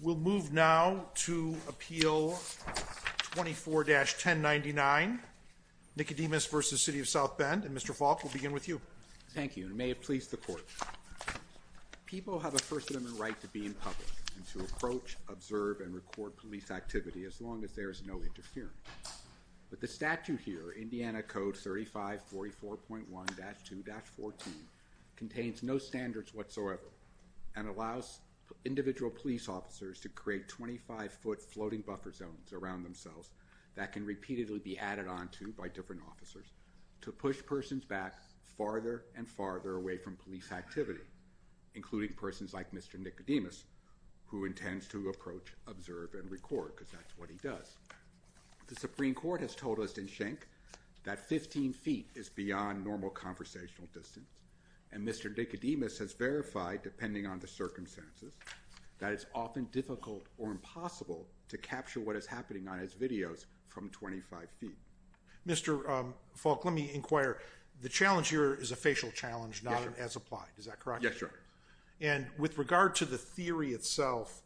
We'll move now to Appeal 24-1099, Nicodemus v. City of South Bend, and Mr. Falk, we'll begin with you. Thank you, and may it please the Court. People have a first amendment right to be in public and to approach, observe, and record police activity as long as there is no interference. But the statute here, Indiana Code 3544.1-2-14, contains no standards whatsoever and allows individual police officers to create 25-foot floating buffer zones around themselves that can repeatedly be added onto by different officers to push persons back farther and farther away from police activity, including persons like Mr. Nicodemus, who intends to approach, observe, and record, because that's what he does. The Supreme Court has told us in Schenck that 15 feet is beyond normal conversational distance, and Mr. Nicodemus has verified, depending on the circumstances, that it's often difficult or impossible to capture what is happening on his videos from 25 feet. Mr. Falk, let me inquire. The challenge here is a facial challenge, not an as-applied. Is that correct? Yes, Your Honor. And with regard to the theory itself,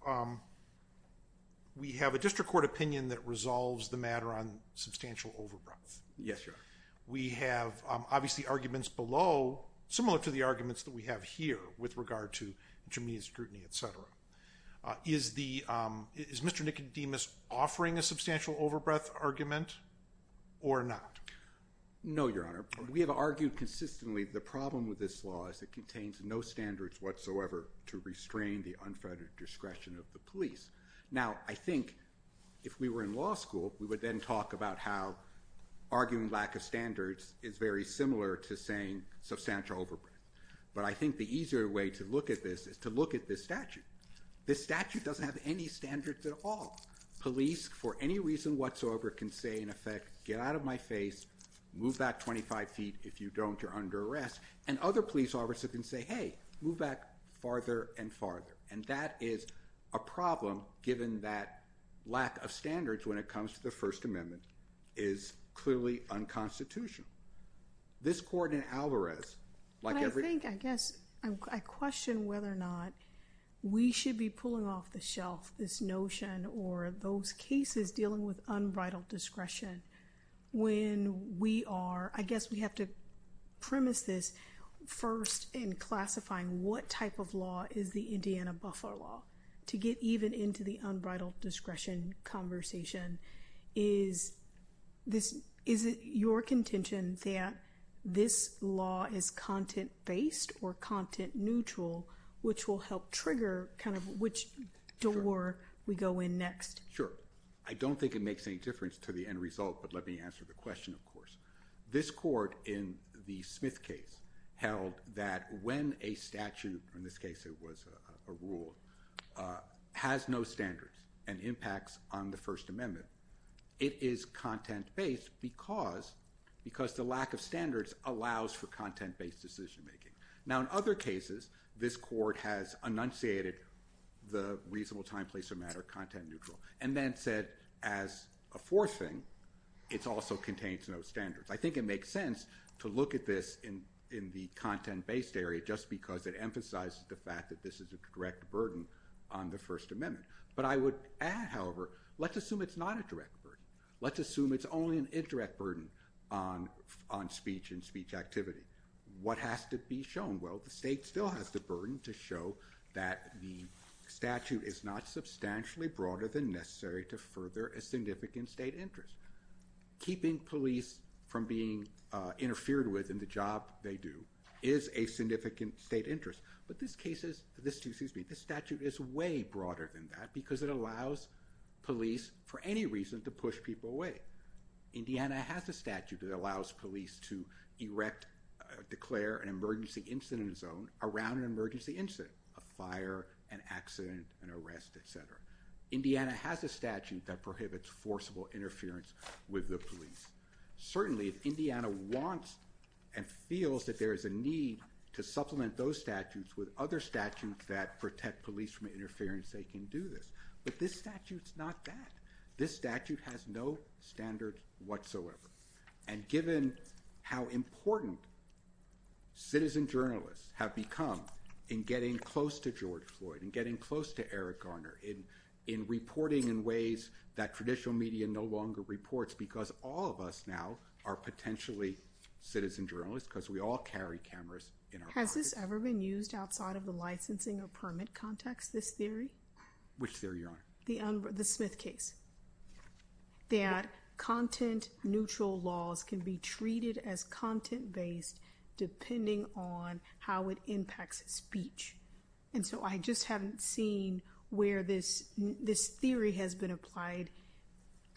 we have a district court opinion that resolves the matter on substantial overbreath. Yes, Your Honor. We have, obviously, arguments below, similar to the arguments that we have here with regard to intermediate scrutiny, et cetera. Is Mr. Nicodemus offering a substantial overbreath argument or not? No, Your Honor. We have argued consistently the problem with this law is it contains no standards whatsoever to restrain the unfettered discretion of the police. Now, I think if we were in law school, we would then talk about how arguing lack of standards is very similar to saying substantial overbreath. But I think the easier way to look at this is to look at this statute. This statute doesn't have any standards at all. Police, for any reason whatsoever, can say, in effect, get out of my face, move back 25 feet. If you don't, you're under arrest. And other police officers can say, hey, move back farther and farther. And that is a problem, given that lack of standards when it comes to the First Amendment is clearly unconstitutional. This court in Alvarez, like every other… But I think, I guess, I question whether or not we should be pulling off the shelf this notion or those cases dealing with unbridled discretion when we are… I guess we have to premise this first in classifying what type of law is the Indiana buffer law. To get even into the unbridled discretion conversation, is it your contention that this law is content-based or content-neutral, which will help trigger kind of which door we go in next? Sure. I don't think it makes any difference to the end result. But let me answer the question, of course. This court in the Smith case held that when a statute, in this case it was a rule, has no standards and impacts on the First Amendment, it is content-based because the lack of standards allows for content-based decision-making. Now, in other cases, this court has enunciated the reasonable time, place, or matter content-neutral and then said, as a fourth thing, it also contains no standards. I think it makes sense to look at this in the content-based area just because it emphasizes the fact that this is a direct burden on the First Amendment. But I would add, however, let's assume it's not a direct burden. Let's assume it's only an indirect burden on speech and speech activity. What has to be shown? Well, the state still has the burden to show that the statute is not substantially broader than necessary to further a significant state interest. Keeping police from being interfered with in the job they do is a significant state interest. But this statute is way broader than that because it allows police, for any reason, to push people away. Indiana has a statute that allows police to erect, declare an emergency incident zone around an emergency incident, a fire, an accident, an arrest, et cetera. Indiana has a statute that prohibits forcible interference with the police. Certainly, if Indiana wants and feels that there is a need to supplement those statutes with other statutes that protect police from interference, they can do this. But this statute's not that. This statute has no standard whatsoever. And given how important citizen journalists have become in getting close to George Floyd, in getting close to Eric Garner, in reporting in ways that traditional media no longer reports because all of us now are potentially citizen journalists because we all carry cameras in our pockets. Has this ever been used outside of the licensing or permit context, this theory? Which theory, Your Honor? The Smith case. That content-neutral laws can be treated as content-based depending on how it impacts speech. And so I just haven't seen where this theory has been applied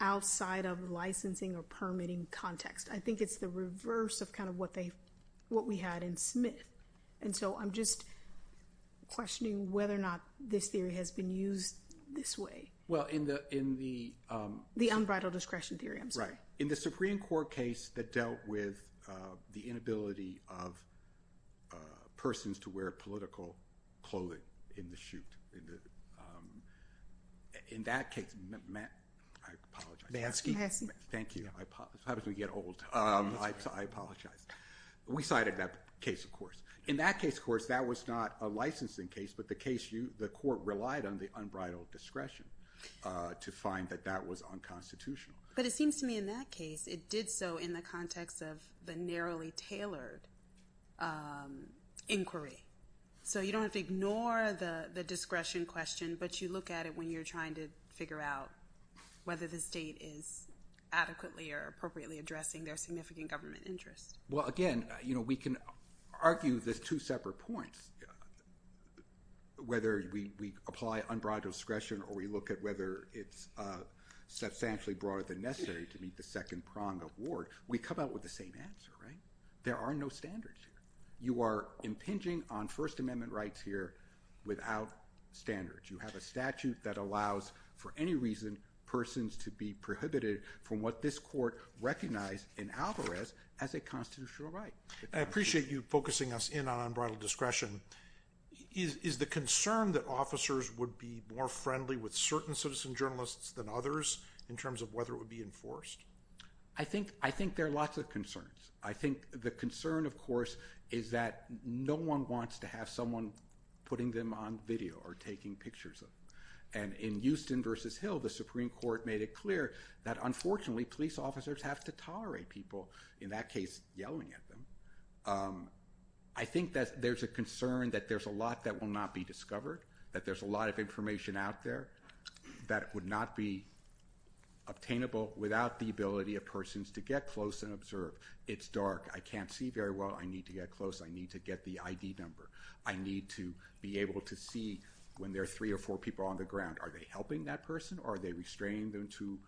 outside of licensing or permitting context. I think it's the reverse of kind of what we had in Smith. And so I'm just questioning whether or not this theory has been used this way. Well, in the— The unbridled discretion theory, I'm sorry. Right. In the Supreme Court case that dealt with the inability of persons to wear political clothing in the shoot, in that case—I apologize. Manski. Thank you. I apologize. It's hard to get old. I apologize. We cited that case, of course. In that case, of course, that was not a licensing case, but the case, the court relied on the unbridled discretion to find that that was unconstitutional. But it seems to me in that case, it did so in the context of the narrowly tailored inquiry. So you don't have to ignore the discretion question, but you look at it when you're trying to figure out whether the state is adequately or appropriately addressing their significant government interest. Well, again, you know, we can argue there's two separate points, whether we apply unbridled discretion or we look at whether it's substantially broader than necessary to meet the second prong of war. We come out with the same answer, right? There are no standards. You are impinging on First Amendment rights here without standards. You have a statute that allows, for any reason, persons to be prohibited from what this court recognized in Alvarez as a constitutional right. I appreciate you focusing us in on unbridled discretion. Is the concern that officers would be more friendly with certain citizen journalists than others in terms of whether it would be enforced? I think there are lots of concerns. I think the concern, of course, is that no one wants to have someone putting them on video or taking pictures of them. And in Houston versus Hill, the Supreme Court made it clear that, unfortunately, police officers have to tolerate people, in that case, yelling at them. I think that there's a concern that there's a lot that will not be discovered, that there's a lot of information out there that would not be obtainable without the ability of persons to get close and observe. It's dark. I can't see very well. I need to get close. I need to get the ID number. I need to be able to see when there are three or four people on the ground. Are they helping that person or are they restraining them to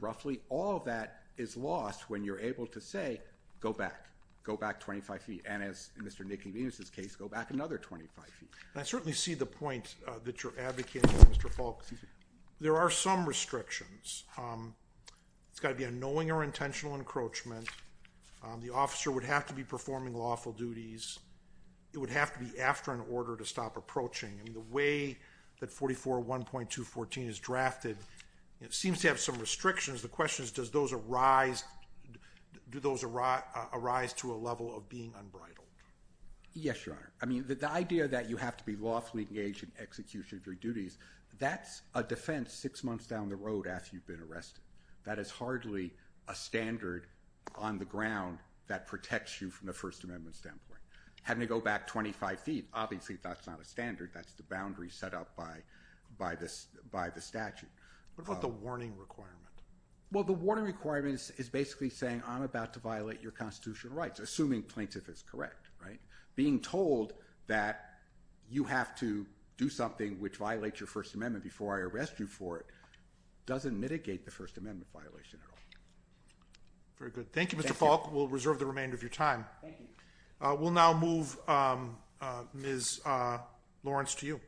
roughly? All of that is lost when you're able to say, go back, go back 25 feet. And as in Mr. Nicky Venus' case, go back another 25 feet. I certainly see the point that you're advocating, Mr. Falk. There are some restrictions. It's got to be a knowing or intentional encroachment. The officer would have to be performing lawful duties. It would have to be after an order to stop approaching. And the way that 44.1.214 is drafted seems to have some restrictions. The question is, do those arise to a level of being unbridled? Yes, Your Honor. I mean, the idea that you have to be lawfully engaged in execution of your duties, that's a defense six months down the road after you've been arrested. That is hardly a standard on the ground that protects you from the First Amendment standpoint. Having to go back 25 feet, obviously that's not a standard. That's the boundary set up by the statute. What about the warning requirement? Well, the warning requirement is basically saying I'm about to violate your constitutional rights, assuming plaintiff is correct, right? Being told that you have to do something which violates your First Amendment before I arrest you for it doesn't mitigate the First Amendment violation at all. Very good. Thank you, Mr. Falk. We'll reserve the remainder of your time. We'll now move Ms. Lawrence to you.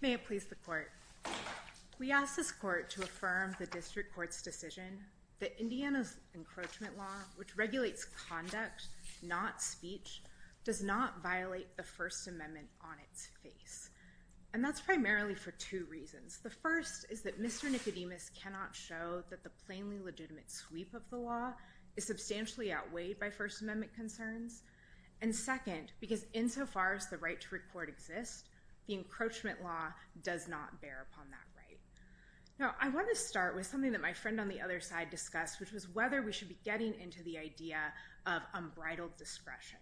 May it please the court. We ask this court to affirm the district court's decision that Indiana's encroachment law, which regulates conduct, not speech, does not violate the First Amendment on its face. And that's primarily for two reasons. The first is that Mr. Nicodemus cannot show that the plainly legitimate sweep of the law is substantially outweighed by First Amendment concerns. And second, because insofar as the right to report exists, the encroachment law does not bear upon that right. Now, I want to start with something that my friend on the other side discussed, which was whether we should be getting into the idea of unbridled discretion.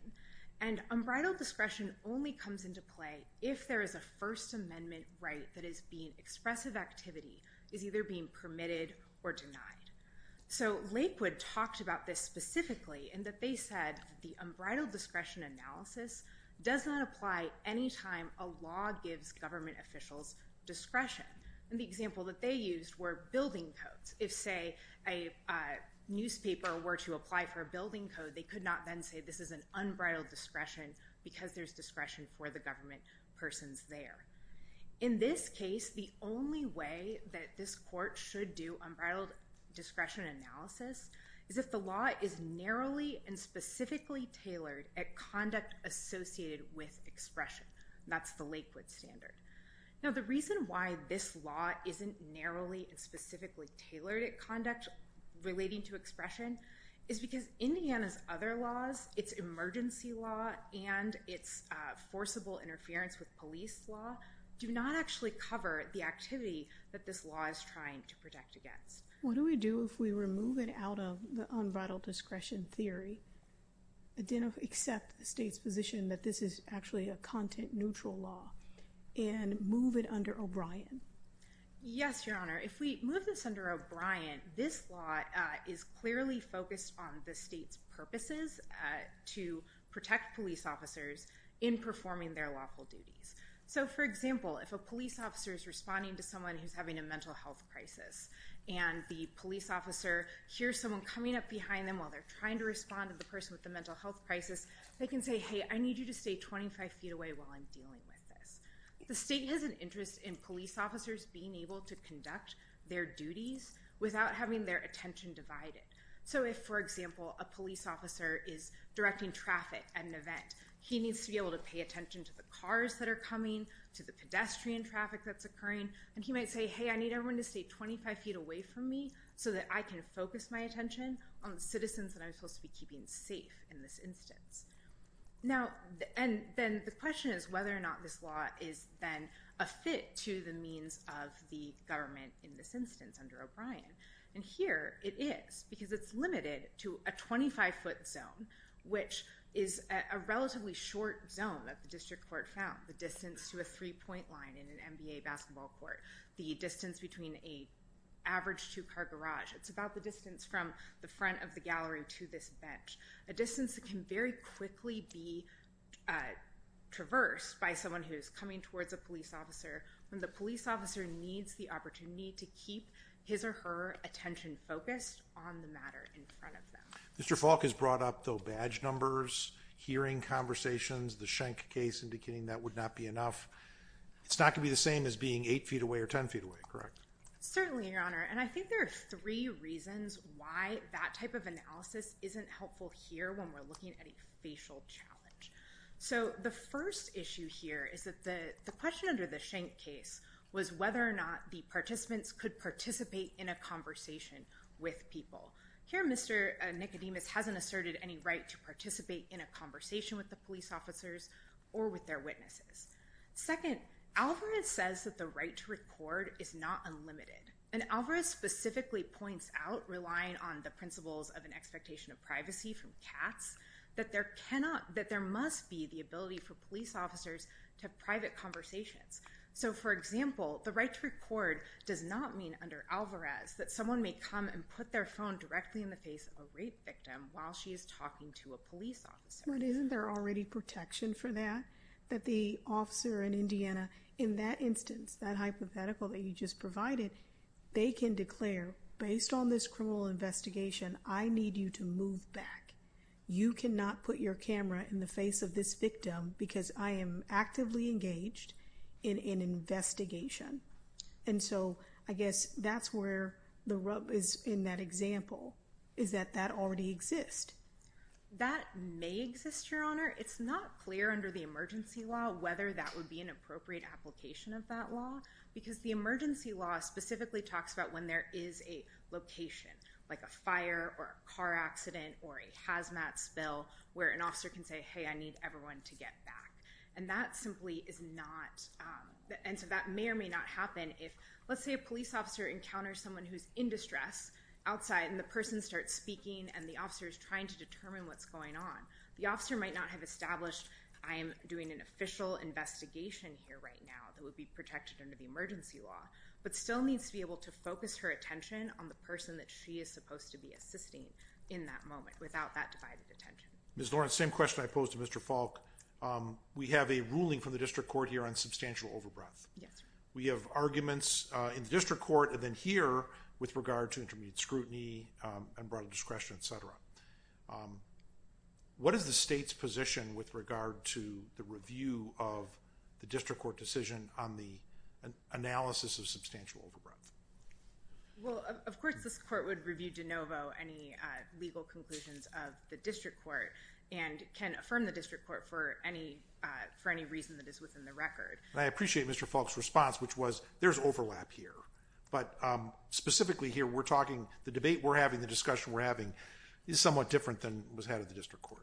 And unbridled discretion only comes into play if there is a First Amendment right that is being expressive activity, is either being permitted or denied. So Lakewood talked about this specifically in that they said the unbridled discretion analysis does not apply any time a law gives government officials discretion. And the example that they used were building codes. If, say, a newspaper were to apply for a building code, they could not then say this is an unbridled discretion because there's discretion for the government persons there. In this case, the only way that this court should do unbridled discretion analysis is if the law is narrowly and specifically tailored at conduct associated with expression. That's the Lakewood standard. Now, the reason why this law isn't narrowly and specifically tailored at conduct relating to expression is because Indiana's other laws, its emergency law and its forcible interference with police law, do not actually cover the activity that this law is trying to protect against. What do we do if we remove it out of the unbridled discretion theory, accept the state's position that this is actually a content neutral law and move it under O'Brien? Yes, Your Honor. If we move this under O'Brien, this law is clearly focused on the state's purposes to protect police officers in performing their lawful duties. So, for example, if a police officer is responding to someone who's having a mental health crisis and the police officer hears someone coming up behind them while they're trying to respond to the person with the mental health crisis, they can say, hey, I need you to stay 25 feet away while I'm dealing with this. The state has an interest in police officers being able to conduct their duties without having their attention divided. So if, for example, a police officer is directing traffic at an event, he needs to be able to pay attention to the cars that are coming, to the pedestrian traffic that's occurring, and he might say, hey, I need everyone to stay 25 feet away from me so that I can focus my attention on the citizens that I'm supposed to be keeping safe in this instance. Now, and then the question is whether or not this law is then a fit to the means of the government in this instance under O'Brien. And here it is, because it's limited to a 25-foot zone, which is a relatively short zone that the district court found, the distance to a three-point line in an NBA basketball court, the distance between an average two-car garage. It's about the distance from the front of the gallery to this bench, a distance that can very quickly be traversed by someone who's coming towards a police officer when the police officer needs the opportunity to keep his or her attention focused on the matter in front of them. Mr. Falk has brought up, though, badge numbers, hearing conversations, the Schenck case indicating that would not be enough. It's not going to be the same as being 8 feet away or 10 feet away, correct? Certainly, Your Honor. And I think there are three reasons why that type of analysis isn't helpful here when we're looking at a facial challenge. So the first issue here is that the question under the Schenck case was whether or not the participants could participate in a conversation with people. Here Mr. Nicodemus hasn't asserted any right to participate in a conversation with the police officers or with their witnesses. Second, Alvarez says that the right to record is not unlimited, and Alvarez specifically points out, relying on the principles of an expectation of privacy from Katz, that there must be the ability for police officers to have private conversations. So, for example, the right to record does not mean, under Alvarez, that someone may come and put their phone directly in the face of a rape victim while she is talking to a police officer. But isn't there already protection for that? That the officer in Indiana, in that instance, that hypothetical that you just provided, they can declare, based on this criminal investigation, I need you to move back. You cannot put your camera in the face of this victim because I am actively engaged in an investigation. And so I guess that's where the rub is in that example, is that that already exists. That may exist, Your Honor. It's not clear under the emergency law whether that would be an appropriate application of that law because the emergency law specifically talks about when there is a location, like a fire or a car accident or a hazmat spill, where an officer can say, hey, I need everyone to get back. And that simply is not, and so that may or may not happen if, let's say a police officer encounters someone who's in distress outside and the person starts speaking and the officer is trying to determine what's going on. The officer might not have established, I am doing an official investigation here right now that would be protected under the emergency law, but still needs to be able to focus her attention on the person that she is supposed to be assisting in that moment without that divided attention. Ms. Lawrence, same question I posed to Mr. Falk. We have a ruling from the district court here on substantial overbrief. Yes, sir. We have arguments in the district court and then here with regard to intermediate scrutiny and broader discretion, et cetera. What is the state's position with regard to the review of the district court decision on the analysis of substantial overbrief? Well, of course this court would review de novo any legal conclusions of the district court and can affirm the district court for any reason that is within the record. I appreciate Mr. Falk's response, which was there's overlap here, but specifically here we're talking the debate we're having, the discussion we're having is somewhat different than was had at the district court.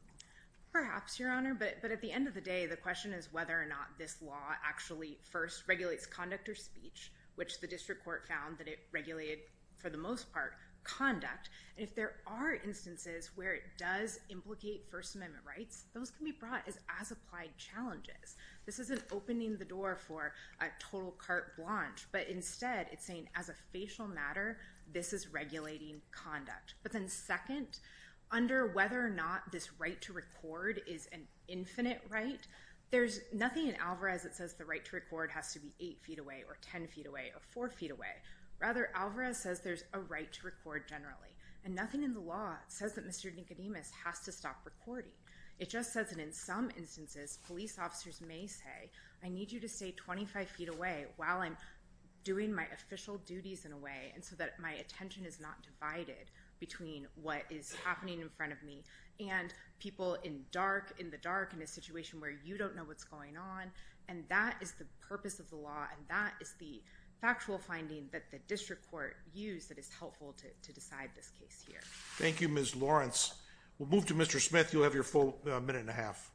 Perhaps, Your Honor, but at the end of the day the question is whether or not this law actually first regulates conduct or speech, which the district court found that it regulated for the most part conduct. If there are instances where it does implicate First Amendment rights, those can be brought as applied challenges. This isn't opening the door for a total carte blanche, but instead it's saying as a facial matter this is regulating conduct. But then second, under whether or not this right to record is an infinite right, there's nothing in Alvarez that says the right to record has to be eight feet away or ten feet away or four feet away. Rather, Alvarez says there's a right to record generally. And nothing in the law says that Mr. Nicodemus has to stop recording. It just says that in some instances police officers may say, I need you to stay 25 feet away while I'm doing my official duties in a way so that my attention is not divided between what is happening in front of me and people in the dark in a situation where you don't know what's going on. That is the purpose of the law, and that is the factual finding that the district court used that is helpful to decide this case here. Thank you, Ms. Lawrence. We'll move to Mr. Smith. You'll have your full minute and a half.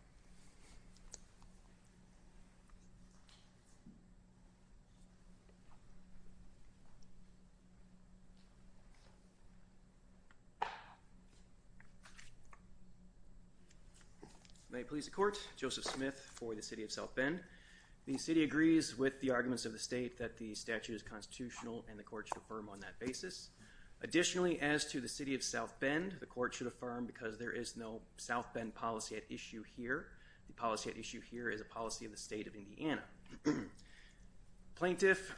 May it please the court, Joseph Smith for the city of South Bend. The city agrees with the arguments of the state that the statute is constitutional and the court should affirm on that basis. Additionally, as to the city of South Bend, the court should affirm because there is no South Bend policy at issue here. The policy at issue here is a policy of the state of Indiana. Plaintiff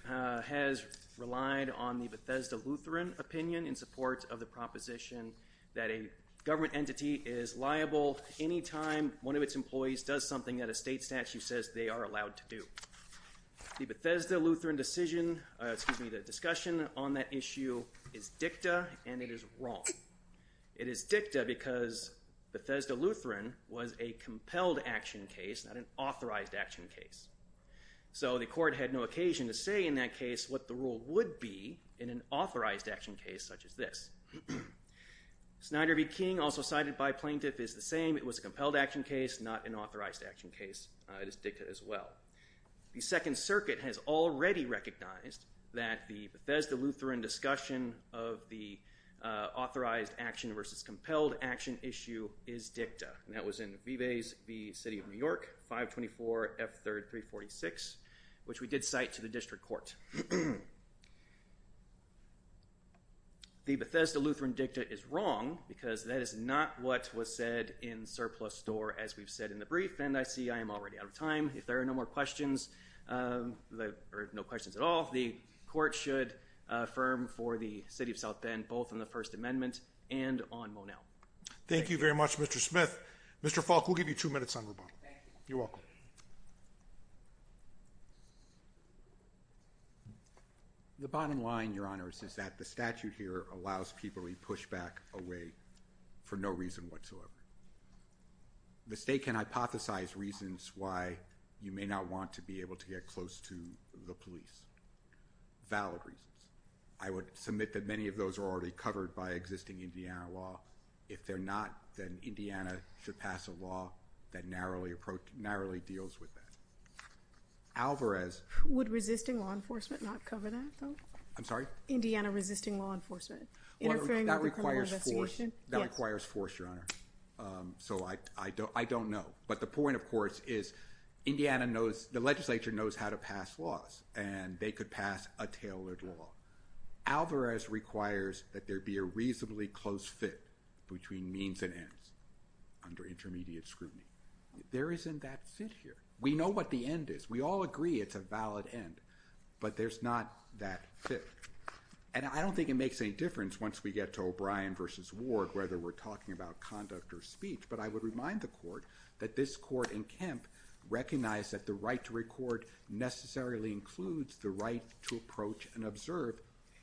has relied on the Bethesda Lutheran opinion in support of the proposition that a government entity is liable any time one of its employees does something that a state statute says they are allowed to do. The Bethesda Lutheran decision, excuse me, the discussion on that issue is dicta and it is wrong. It is dicta because Bethesda Lutheran was a compelled action case, not an authorized action case. So the court had no occasion to say in that case what the rule would be in an authorized action case such as this. Snyder v. King, also cited by plaintiff, is the same. It was a compelled action case, not an authorized action case. It is dicta as well. The Second Circuit has already recognized that the Bethesda Lutheran discussion of the authorized action versus compelled action issue is dicta, and that was in Vive's v. City of New York, 524F336, which we did cite to the district court. The Bethesda Lutheran dicta is wrong because that is not what was said in surplus store, as we've said in the brief, and I see I am already out of time. If there are no more questions, or no questions at all, the court should affirm for the City of South Bend both on the First Amendment and on Monell. Thank you very much, Mr. Smith. Mr. Falk, we'll give you two minutes on rebuttal. Thank you. You're welcome. The bottom line, Your Honors, is that the statute here allows people to legally push back a way for no reason whatsoever. The state can hypothesize reasons why you may not want to be able to get close to the police, valid reasons. I would submit that many of those are already covered by existing Indiana law. If they're not, then Indiana should pass a law that narrowly deals with that. Alvarez. Would resisting law enforcement not cover that, though? I'm sorry? Indiana resisting law enforcement. Interfering with a criminal investigation. That requires force, Your Honor. So I don't know. But the point, of course, is the legislature knows how to pass laws, and they could pass a tailored law. Alvarez requires that there be a reasonably close fit between means and ends under intermediate scrutiny. There isn't that fit here. We know what the end is. We all agree it's a valid end. But there's not that fit. And I don't think it makes any difference once we get to O'Brien versus Ward whether we're talking about conduct or speech. But I would remind the court that this court in Kemp recognized that the right to record necessarily includes the right to approach and observe.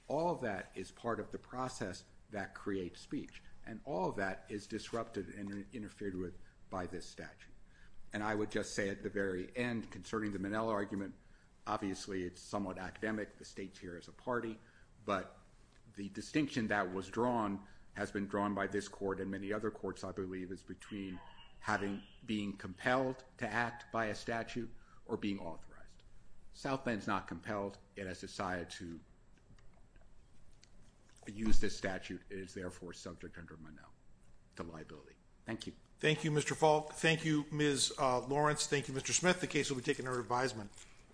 All of that is part of the process that creates speech. And all of that is disrupted and interfered with by this statute. And I would just say at the very end, concerning the Minnell argument, obviously it's somewhat academic. The state's here as a party. But the distinction that was drawn has been drawn by this court and many other courts, I believe, is between being compelled to act by a statute or being authorized. South Bend's not compelled. It has decided to use this statute. It is, therefore, subject under Minnell to liability. Thank you. Thank you, Mr. Falk. Thank you, Ms. Lawrence. Thank you, Mr. Smith. And with that, the case will be taken under advisement.